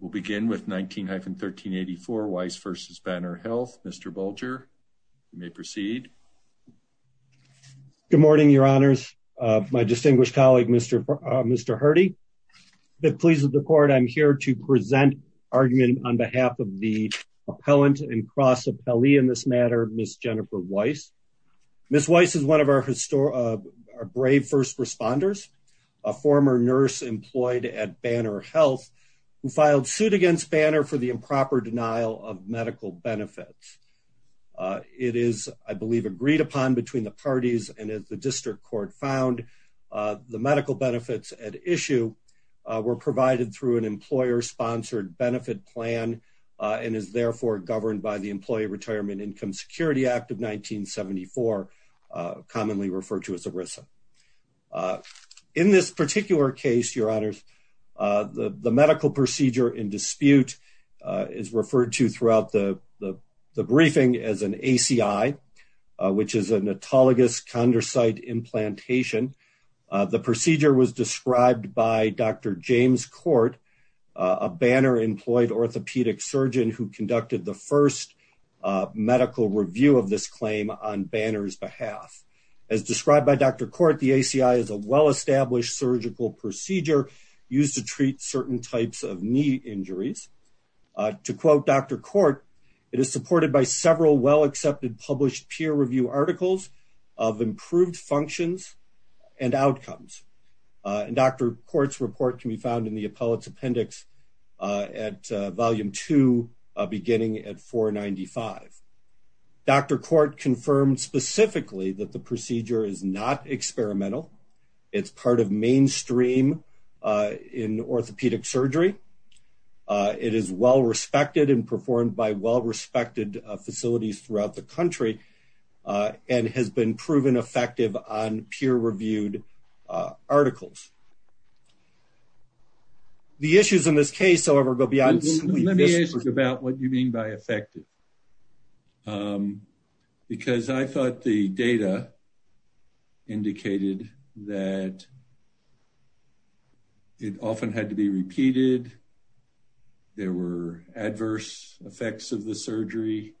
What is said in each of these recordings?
We'll begin with 19-1384 Weiss v. Banner Health. Mr. Bulger, you may proceed. Good morning, your honors. My distinguished colleague, Mr. Herdy. I'm pleased with the court. I'm here to present argument on behalf of the appellant and cross appellee in this matter, Ms. Jennifer Weiss. Ms. Weiss is one of our brave first responders, a former nurse employed at sued against Banner for the improper denial of medical benefits. It is, I believe, agreed upon between the parties and as the district court found, the medical benefits at issue were provided through an employer-sponsored benefit plan and is therefore governed by the Employee Retirement Income Security Act of 1974, commonly referred to as ERISA. In this particular case, your honors, the medical procedure in dispute is referred to throughout the briefing as an ACI, which is an autologous chondrocyte implantation. The procedure was described by Dr. James Court, a Banner-employed orthopedic surgeon who conducted the first medical review of this claim on Banner's used to treat certain types of knee injuries. To quote Dr. Court, it is supported by several well-accepted published peer review articles of improved functions and outcomes. And Dr. Court's report can be found in the appellate's appendix at volume two, beginning at 495. Dr. Court confirmed specifically that the procedure is not experimental. It's part mainstream in orthopedic surgery. It is well-respected and performed by well-respected facilities throughout the country and has been proven effective on peer-reviewed articles. The issues in this case, however, go beyond simply this. Let me ask you about what you mean by effective. Because I thought the data indicated that it often had to be repeated. There were adverse effects of the surgery.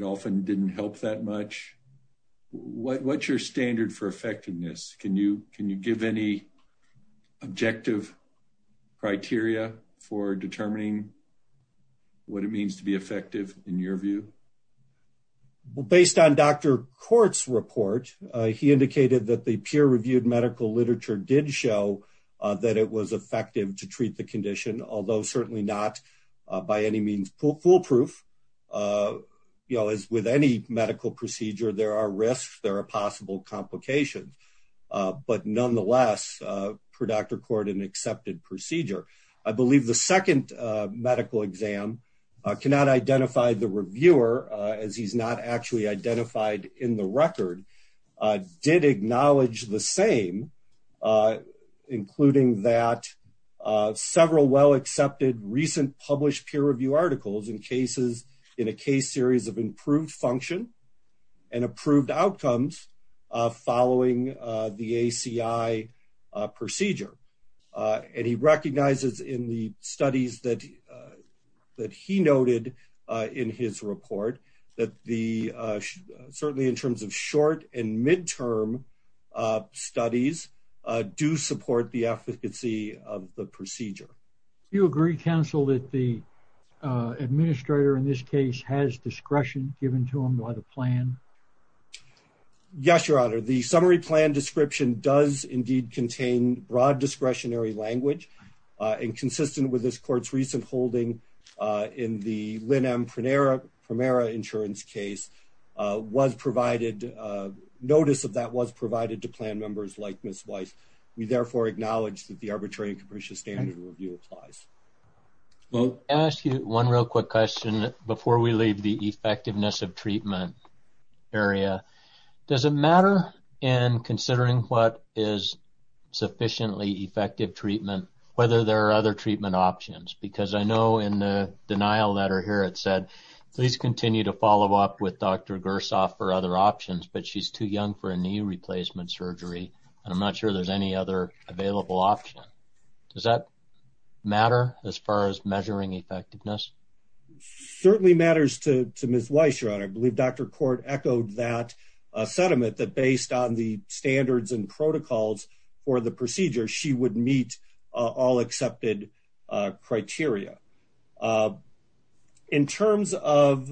It often didn't help that much. What's your standard for effectiveness? Can you give any objective criteria for determining what it means to be effective in your view? Based on Dr. Court's report, he indicated that the peer-reviewed medical literature did show that it was effective to treat the condition, although certainly not by any means foolproof. With any medical procedure, there are risks, there are possible complications. But nonetheless, for Dr. Court, an accepted procedure. I believe the second medical exam cannot identify the reviewer, as he's not actually identified in the record, did acknowledge the same, including that several well-accepted recent published peer-reviewed articles in cases in a case series of improved function and approved outcomes following the ACI procedure. He recognizes in the studies that he noted in his report, that certainly in terms of short and midterm studies, do support the efficacy of the procedure. Do you agree, counsel, that the administrator in this case has discretion given to him by the plan? Yes, your honor. The summary plan description does indeed contain broad discretionary language and consistent with this court's recent holding in the Lynn M. Primera insurance case, was provided, notice of that was provided to plan members like Ms. Weiss. We therefore acknowledge that the arbitrary and capricious standard review applies. I'll ask you one real quick question before we leave the effectiveness of treatment area. Does it matter in considering what is sufficiently effective treatment, whether there are other treatment options? Because I know in the denial letter here, it said, please continue to follow up with Dr. Gersoff for other options, but she's too young for a available option. Does that matter as far as measuring effectiveness? Certainly matters to Ms. Weiss, your honor. I believe Dr. Court echoed that sentiment that based on the standards and protocols for the procedure, she would meet all accepted criteria. In terms of...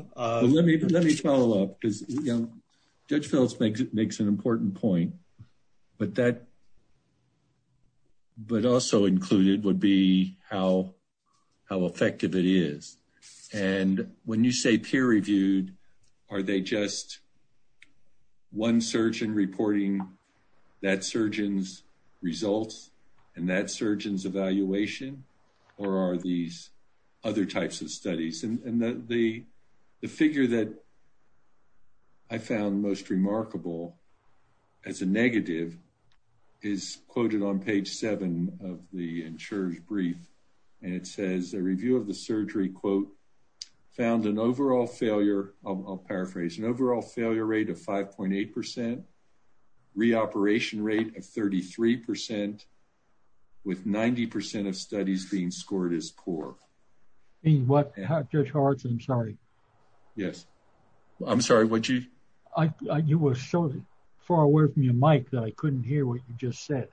Judge Phelps makes an important point, but also included would be how effective it is. And when you say peer reviewed, are they just one surgeon reporting that surgeon's results and that surgeon's evaluation, or are these other types of studies? And the figure that I found most remarkable as a negative is quoted on page seven of the insurer's brief. And it says a review of the surgery quote, found an overall failure, I'll paraphrase, an overall failure rate of 5.8%, reoperation rate of 33% with 90% of studies being scored as poor. And what... Judge Hartz, I'm sorry. Yes. I'm sorry, what'd you... You were so far away from your mic that I couldn't hear what you just said.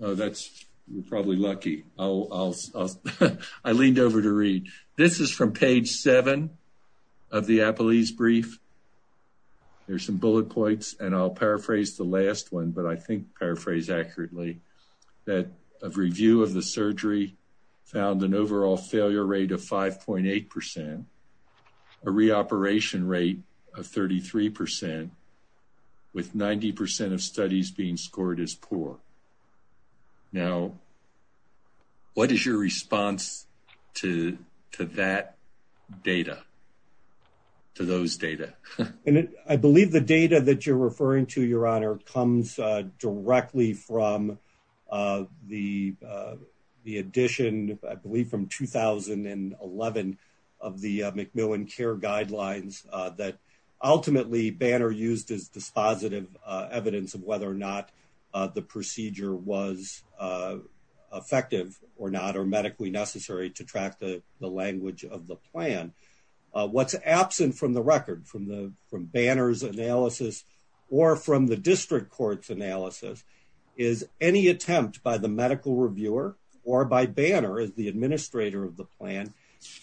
Oh, that's... You're probably lucky. I leaned over to read. This is from page seven of the appellee's brief. There's some bullet points and I'll paraphrase the last one, but I think paraphrase accurately that a review of the surgery found an overall failure rate of 5.8%, a reoperation rate of 33% with 90% of studies being scored as poor. Now, what is your response to that data, to those data? And I believe the data that you're referring to, Your Honor, comes directly from the edition, I believe from 2011 of the Macmillan Care Guidelines that ultimately Banner used as dispositive evidence of whether or not the procedure was effective or not, or medically necessary to track the language of the plan. What's absent from the record from Banner's analysis or from the district court's analysis is any attempt by the medical reviewer or by Banner as the administrator of the plan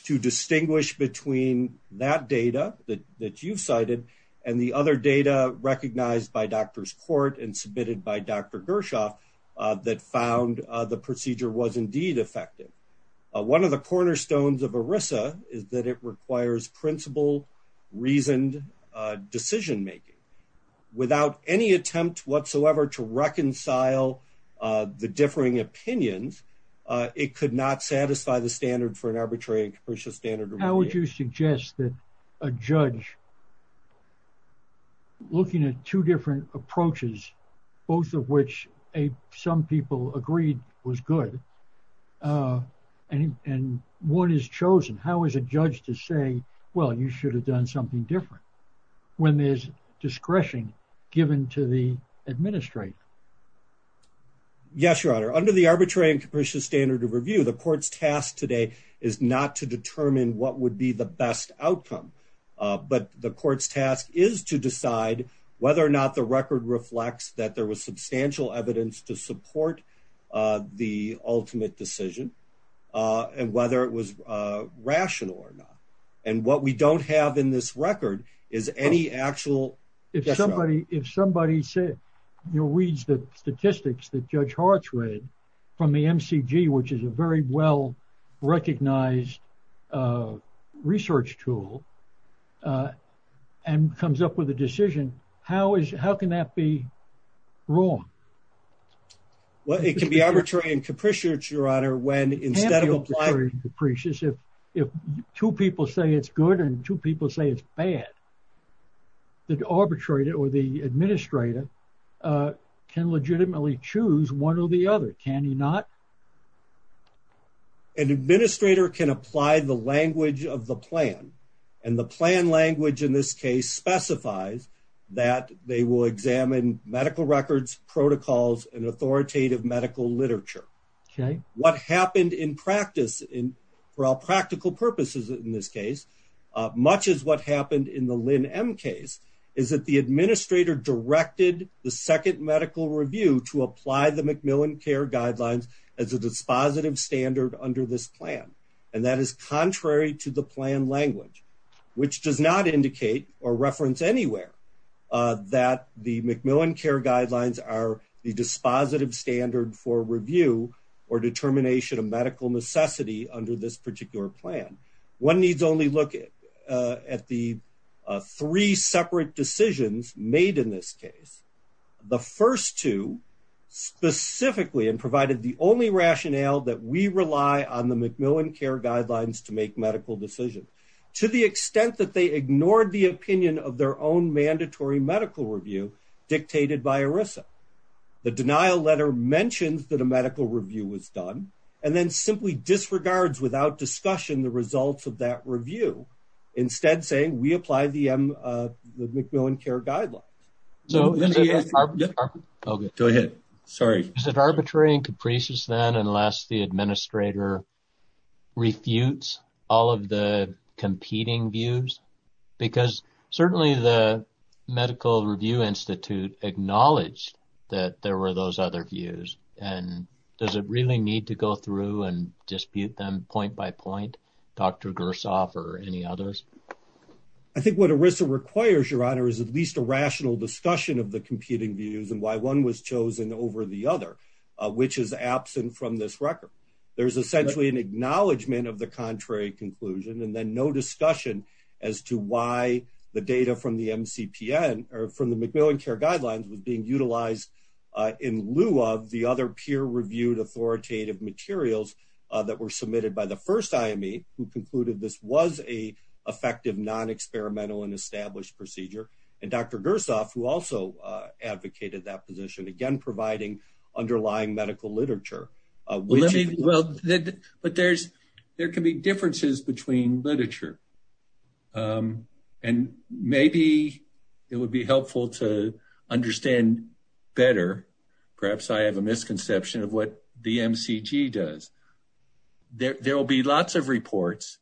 to distinguish between that data that you've cited and the other data recognized by doctors court and submitted by Dr. Gershoff that found the procedure was effective. One of the cornerstones of ERISA is that it requires principled, reasoned decision making. Without any attempt whatsoever to reconcile the differing opinions, it could not satisfy the standard for an arbitrary standard. How would you suggest that a judge looking at two different approaches, both of which some people agreed was good, and one is chosen? How is a judge to say, well, you should have done something different when there's discretion given to the administrator? Yes, Your Honor. Under the arbitrary and capricious standard of review, the court's task today is not to determine what would be the best outcome, but the court's task is to decide whether or not the record reflects that there was substantial evidence to support the ultimate decision and whether it was rational or not. What we don't have in this record is any actual- If somebody reads the statistics that Judge Hart's read from the MCG, which is a very well-recognized research tool and comes up with a decision, how can that be wrong? Well, it can be arbitrary and capricious, Your Honor, when instead of applying- If two people say it's good and two people say it's bad, the arbitrator or the administrator can legitimately choose one or the other, can he not? An administrator can apply the language of the plan, and the plan language in this case specifies that they will examine medical records, protocols, and authoritative medical literature. What happened in practice, for all practical purposes in this case, much as what happened in the Lynn M case, is that the administrator directed the second medical review to apply the as a dispositive standard under this plan, and that is contrary to the plan language, which does not indicate or reference anywhere that the MacMillan CARE guidelines are the dispositive standard for review or determination of medical necessity under this particular plan. One needs only look at the three separate decisions made in this case. The first two specifically provided the only rationale that we rely on the MacMillan CARE guidelines to make medical decisions, to the extent that they ignored the opinion of their own mandatory medical review dictated by ERISA. The denial letter mentions that a medical review was done, and then simply disregards without discussion the results of that review, instead saying we apply the MacMillan CARE guidelines. Go ahead. Sorry. Is it arbitrary and capricious, then, unless the administrator refutes all of the competing views? Because certainly the Medical Review Institute acknowledged that there were those other views, and does it really need to go through and dispute them point by point, Dr. Gersoff or any others? I think what ERISA requires, Your Honor, is at least a rational discussion of the competing views and why one was chosen over the other, which is absent from this record. There's essentially an acknowledgment of the contrary conclusion and then no discussion as to why the data from the MCPN or from the MacMillan CARE guidelines was being utilized in lieu of the other peer-reviewed authoritative materials that were submitted by the first IME, who concluded this was a effective non-experimental and established procedure, and Dr. Gersoff, who also advocated that position, again providing underlying medical literature. But there can be differences between literature, and maybe it would be helpful to better understand, perhaps I have a misconception of what the MCG does. There will be lots of reports.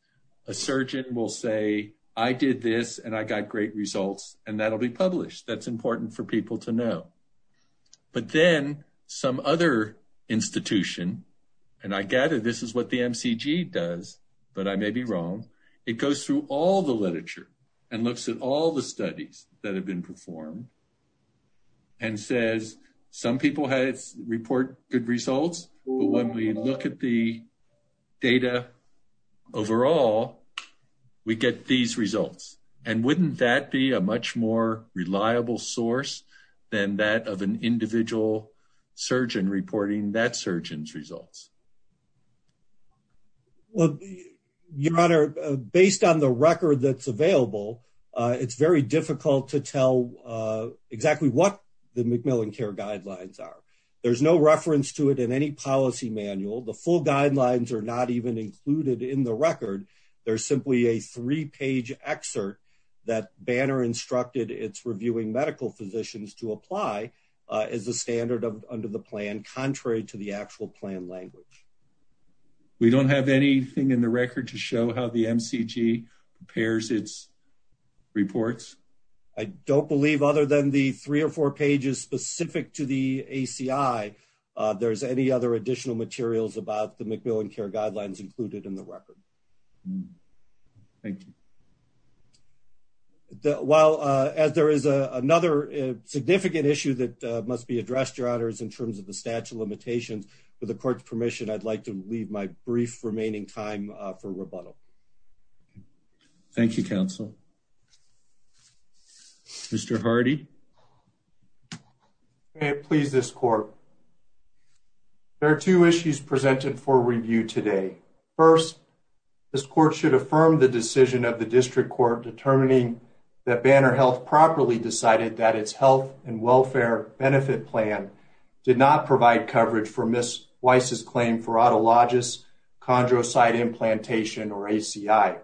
A surgeon will say, I did this and I got great results, and that'll be published. That's important for people to know. But then some other institution, and I gather this is what the MCG does, but I may be wrong, it goes through all the literature and looks at all the studies that and says, some people report good results, but when we look at the data overall, we get these results. And wouldn't that be a much more reliable source than that of an individual surgeon reporting that surgeon's results? Well, your honor, based on the record that's available, it's very difficult to tell exactly what the Macmillan Care Guidelines are. There's no reference to it in any policy manual. The full guidelines are not even included in the record. There's simply a three-page excerpt that Banner instructed its reviewing medical physicians to apply as a standard under the plan, contrary to the actual plan language. We don't have anything in the record to show how the MCG prepares its reports. I don't believe other than the three or four pages specific to the ACI, there's any other additional materials about the Macmillan Care Guidelines included in the record. Thank you. While as there is a another significant issue that must be addressed, your honors, in terms of the statute of limitations, with the court's permission, I'd like to leave my brief remaining time for rebuttal. Thank you, counsel. Mr. Hardy. May it please this court. There are two issues presented for review today. First, this court should affirm the decision of the district court determining that Banner Health properly decided that its health and welfare benefit plan did not provide coverage for Ms. Weiss's claim for chondrocyte implantation or ACI.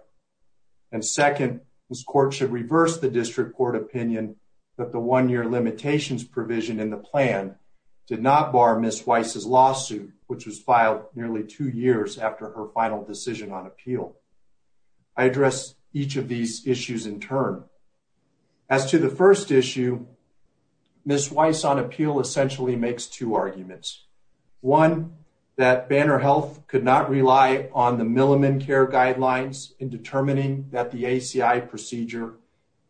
And second, this court should reverse the district court opinion that the one-year limitations provision in the plan did not bar Ms. Weiss's lawsuit, which was filed nearly two years after her final decision on appeal. I address each of these issues in turn. As to the first issue, Ms. Weiss on appeal essentially makes two arguments. One, that Banner Health could not rely on the Milliman Care Guidelines in determining that the ACI procedure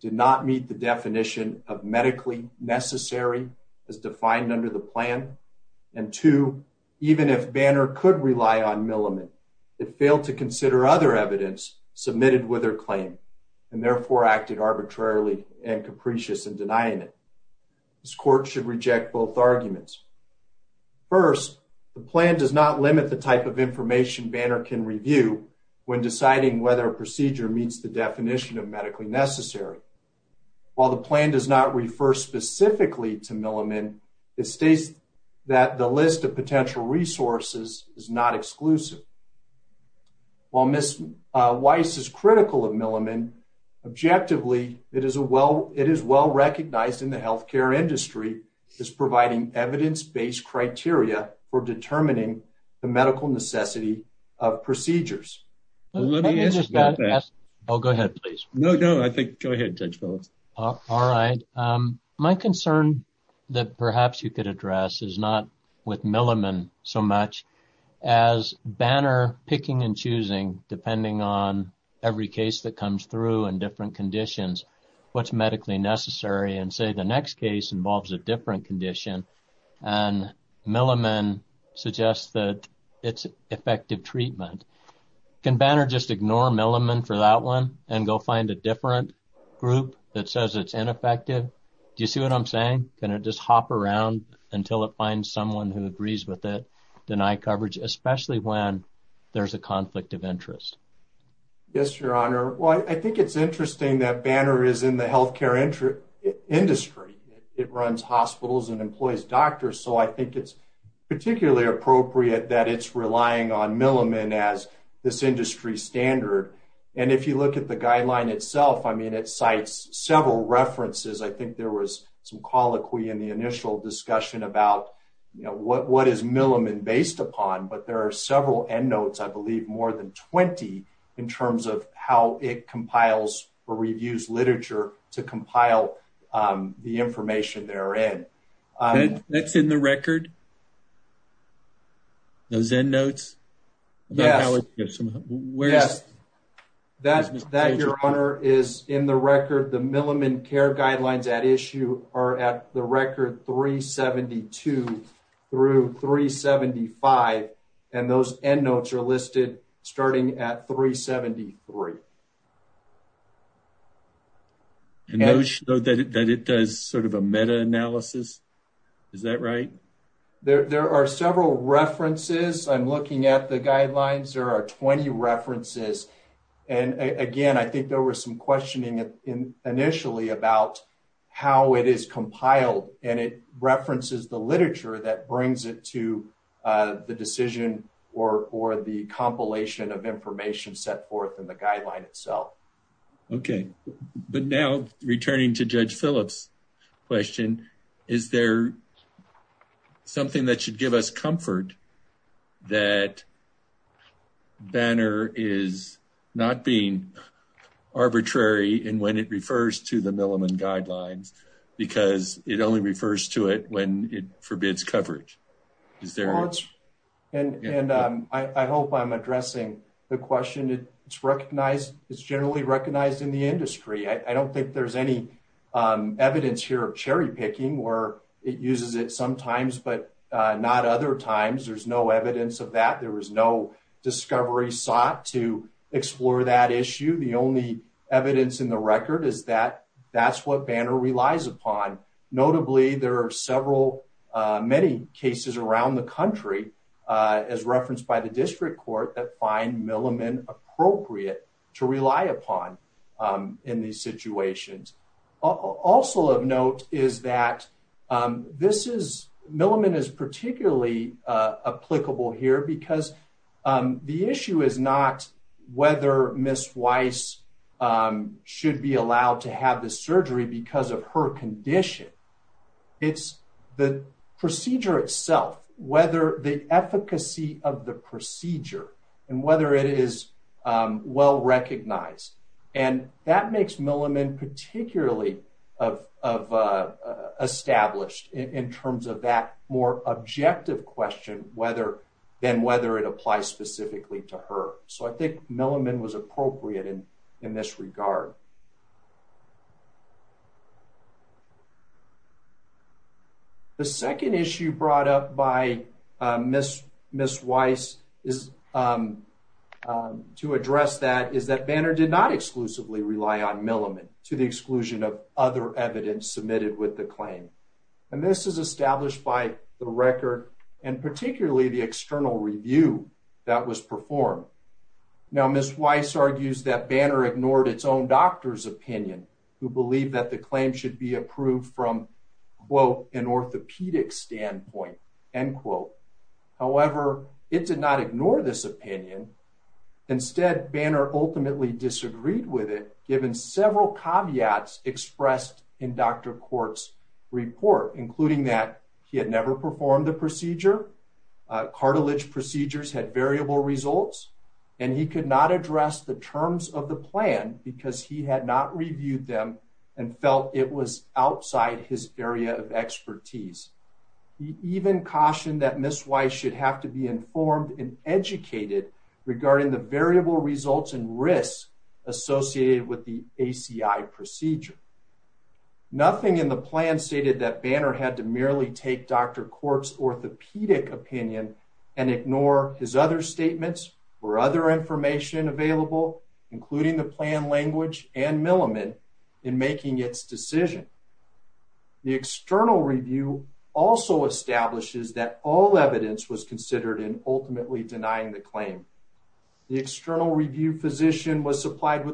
did not meet the definition of medically necessary as defined under the plan. And two, even if Banner could rely on Milliman, it failed to consider other evidence submitted with her claim and therefore acted arbitrarily and capricious in its evidence. First, the plan does not limit the type of information Banner can review when deciding whether a procedure meets the definition of medically necessary. While the plan does not refer specifically to Milliman, it states that the list of potential resources is not exclusive. While Ms. Weiss is critical of Milliman, objectively it is well recognized in the healthcare industry as providing evidence-based criteria for determining the medical necessity of procedures. Let me just ask, oh go ahead please. No, no I think go ahead Judge Phillips. All right, my concern that perhaps you could address is not with Milliman so much as Banner picking and choosing depending on every case that comes through and different conditions what's medically necessary and say the next case involves a different condition and Milliman suggests that it's effective treatment. Can Banner just ignore Milliman for that one and go find a different group that says it's ineffective? Do you see what I'm saying? Can it just hop around until it finds someone who agrees with it, deny coverage, especially when there's a conflict of interest? Yes, your honor. Well, I think it's interesting that Banner is in the healthcare industry. It runs hospitals and employs doctors so I think it's particularly appropriate that it's relying on Milliman as this industry standard and if you look at the guideline itself, I mean it cites several references. I think there was some several end notes, I believe more than 20 in terms of how it compiles or reviews literature to compile the information therein. That's in the record? Those end notes? Yes, that your honor is in the record. The Milliman care guidelines at issue are at the record 372 through 375 and those end notes are listed starting at 373. And those that it does sort of a meta-analysis, is that right? There are several references. I'm looking at the guidelines. There are 20 references and again I think there was some compiled and it references the literature that brings it to the decision or the compilation of information set forth in the guideline itself. Okay, but now returning to Judge Phillips' question, is there something that should give us comfort that Banner is not being arbitrary in when it refers to the Milliman guidelines because it only refers to it when it forbids coverage? I hope I'm addressing the question. It's recognized, it's generally recognized in the industry. I don't think there's any evidence here of cherry picking where it uses it sometimes but not other times. There's no evidence of that. There was no discovery sought to explore that issue. The only evidence in the record is that that's what Banner relies upon. Notably, there are several many cases around the country as referenced by the district court that find Milliman appropriate to rely upon in these situations. Also of note is that Milliman is particularly applicable here because the issue is not whether Ms. Weiss should be allowed to have the surgery because of her condition. It's the procedure itself, whether the efficacy of the procedure and whether it is well recognized. That makes Milliman particularly established in terms of that more objective question than whether it applies specifically to her. I think Milliman was appropriate in this regard. The second issue brought up by Ms. Weiss to address that is that Banner did not exclusively rely on Milliman to the exclusion of other evidence submitted with the claim. This is established by the record and particularly the external review that was performed. Ms. Weiss argues that Banner ignored its own doctor's opinion who believed that the claim should be approved from quote an orthopedic standpoint end quote. However, it did not ignore this opinion. Instead, Banner ultimately disagreed with it given several caveats expressed in Dr. Banner's report including that he had never performed the procedure, cartilage procedures had variable results, and he could not address the terms of the plan because he had not reviewed them and felt it was outside his area of expertise. He even cautioned that Ms. Weiss should have to be informed and educated regarding the variable results and risks associated with the ACI procedure. Nothing in the plan stated that Banner had to merely take Dr. Kort's orthopedic opinion and ignore his other statements or other information available including the plan language and Milliman in making its decision. The external review also establishes that all evidence was considered in ultimately denying the claim. The external review physician was letter.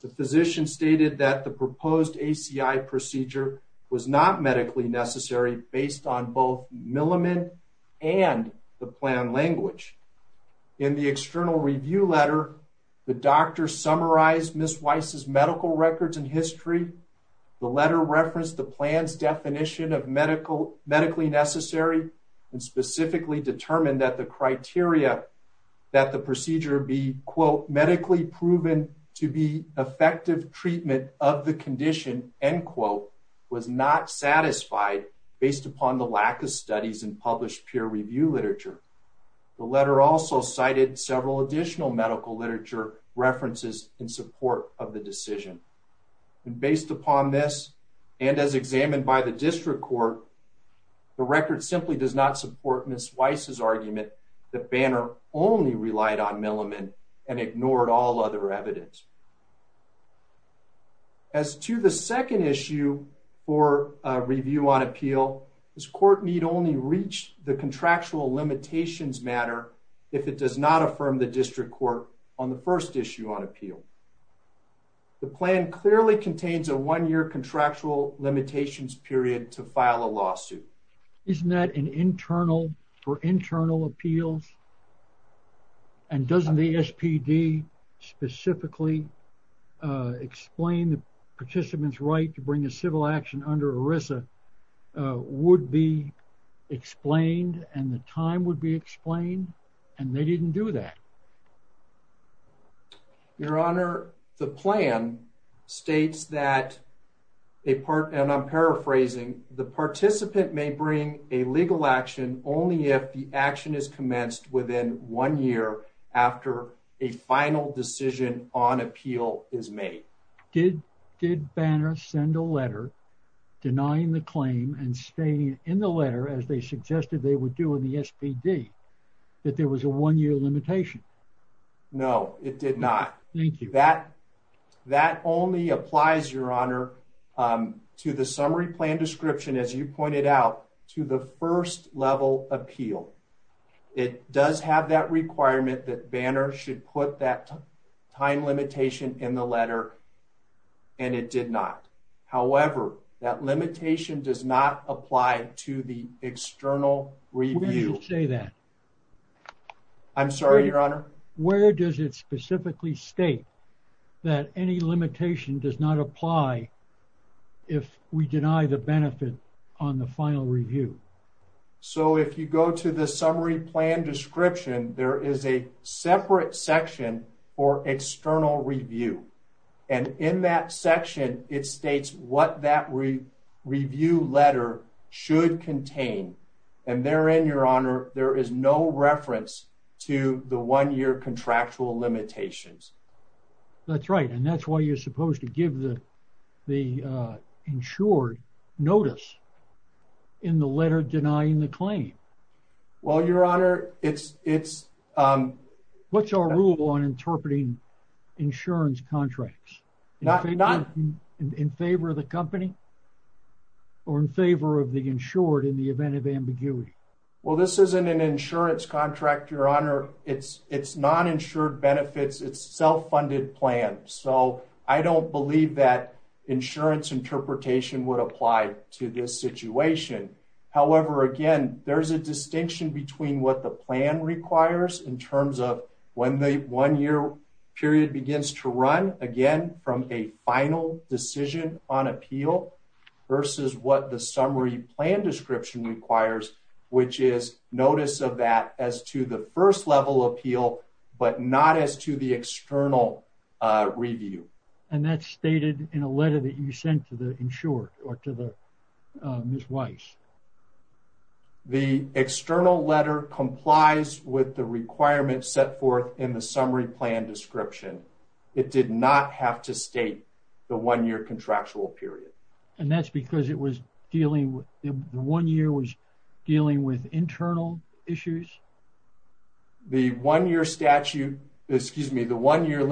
The physician stated that the proposed ACI procedure was not medically necessary based on both Milliman and the plan language. In the external review letter, the doctor summarized Ms. Weiss's medical records and history. The letter referenced the plan's definition of medically necessary and specifically determined that the criteria that the procedure be medically proven to be effective treatment of the condition was not satisfied based upon the lack of studies and published peer review literature. The letter also cited several additional medical literature references in support of the decision. Based upon this and as examined by the district court, the record simply does not support Ms. Weiss's argument that Banner only relied on Milliman and ignored all other evidence. As to the second issue for review on appeal, this court need only reach the contractual limitations matter if it does not affirm the district court on the first issue on appeal. The plan clearly contains a one-year contractual limitations period to file a lawsuit. Isn't that for internal appeals? And doesn't the SPD specifically explain the participant's right to bring a civil action under ERISA would be explained and the time would be explained? And they didn't do that. Your Honor, the plan states that, and I'm paraphrasing, the participant may bring a legal action only if the action is commenced within one year after a final decision on appeal is made. Did Banner send a letter denying the claim and stating in the letter, as they suggested they would do in the SPD, that there was a one-year limitation? No, it did not. Thank you. That only applies, Your Honor, to the summary plan description, as you pointed out, to the first level appeal. It does have that requirement that Banner should put that time limitation in the letter, and it did not. However, that limitation does not apply to the external review. Where does it specifically state that any limitation does not apply if we deny the benefit on the final review? So, if you go to the summary plan description, there is a separate section for external review. And in that section, it states what that review letter should contain. And therein, Your Honor, there is no reference to the one-year contractual limitations. That's right. And that's why you're supposed to give the insured notice in the letter denying the claim. Well, Your Honor, it's... What's our rule on interpreting insurance contracts? In favor of the company or in favor of the insured in the event of ambiguity? Well, this isn't an insurance contract, Your Honor. It's non-insured benefits. It's a self-funded plan. So, I don't believe that insurance interpretation would apply to this situation. However, again, there's a distinction between what the plan requires in terms of when the one-year period begins to run, again, from a final decision on appeal versus what the summary plan description requires, which is notice of that as to the first level appeal, but not as to the external review. And that's stated in a letter that you sent to the insured or to the Ms. Weiss. The external letter complies with the requirements set forth in the summary plan description. It did not have to state the one-year contractual period. And that's because it was dealing with... the one-year was dealing with internal issues? The one-year statute, excuse me, the one-year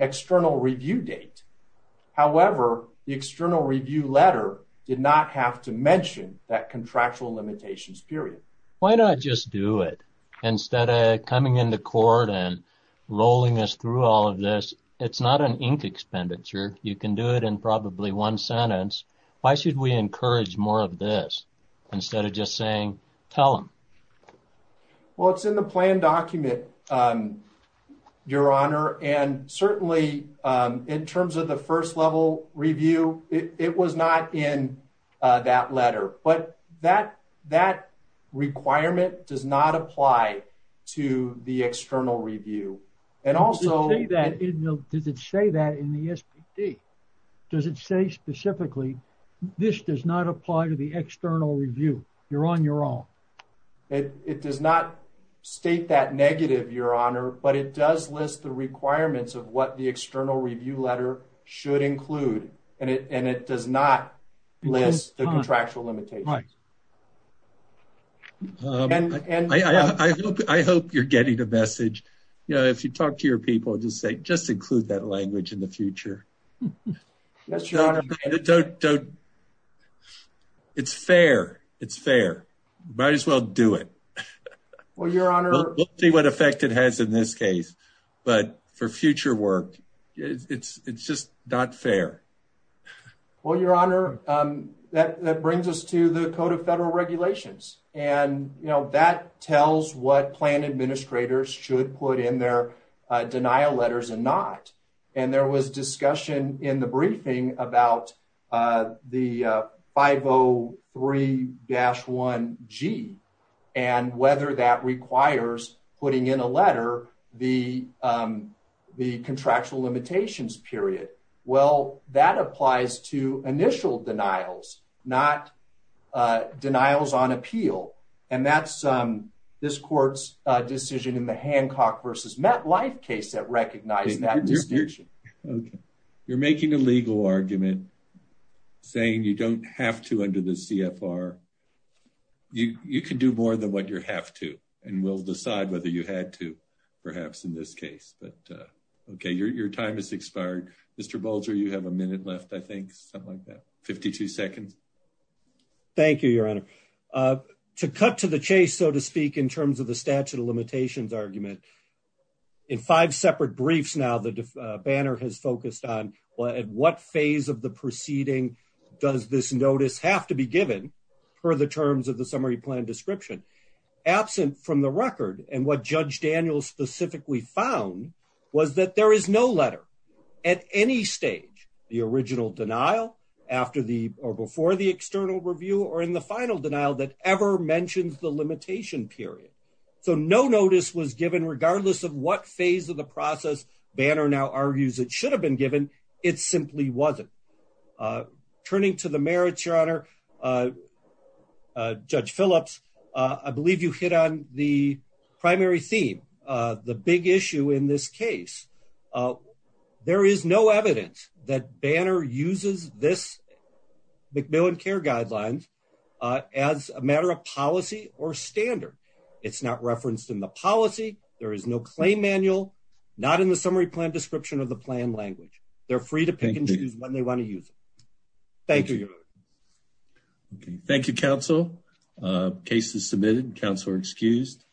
external review date. However, the external review letter did not have to mention that contractual limitations period. Why not just do it instead of coming into court and rolling us through all of this? It's not an ink expenditure. You can do it in probably one sentence. Why should we encourage more of this instead of just saying, tell them? Well, it's in the plan document, Your Honor. And certainly in terms of the first level review, it was not in that letter, but that requirement does not apply to the external review. And also... Does it say that in the SBD? Does it say specifically, this does not apply to the external review? You're on your own. It does not state that negative, Your Honor, but it does list the requirements of what the external review letter should include. And it does not list the contractual limitations. I hope you're getting the message. If you talk to your people and just say, Yes, Your Honor. It's fair. It's fair. Might as well do it. We'll see what effect it has in this case, but for future work, it's just not fair. Well, Your Honor, that brings us to the Code of Federal Regulations. And that tells what plan administrators should put in their letters and not. And there was discussion in the briefing about the 503-1G and whether that requires putting in a letter the contractual limitations period. Well, that applies to initial denials, not denials on appeal. And that's this court's decision in the Hancock versus MetLife case that recognized that distinction. You're making a legal argument saying you don't have to under the CFR. You can do more than what you have to, and we'll decide whether you had to, perhaps in this case. But, okay, your time has expired. Mr. Bolger, you have a minute left, I think, something like that. 52 seconds. Thank you, Your Honor. To cut to the chase, so to speak, in terms of the statute of limitations argument, in five separate briefs now, the banner has focused on what phase of the proceeding does this notice have to be given per the terms of the summary plan description. Absent from the record, and what Judge Daniels specifically found, was that there is no letter at any stage, the original denial, after the, or before the external review, or in the final regardless of what phase of the process Banner now argues it should have been given, it simply wasn't. Turning to the merits, Your Honor, Judge Phillips, I believe you hit on the primary theme, the big issue in this case. There is no evidence that Banner uses this bill and care guidelines as a matter of policy or standard. It's not referenced in the policy, there is no claim manual, not in the summary plan description of the plan language. They're free to pick and choose when they want to use it. Thank you, Your Honor. Thank you, counsel. Case is submitted. Counsel are excused.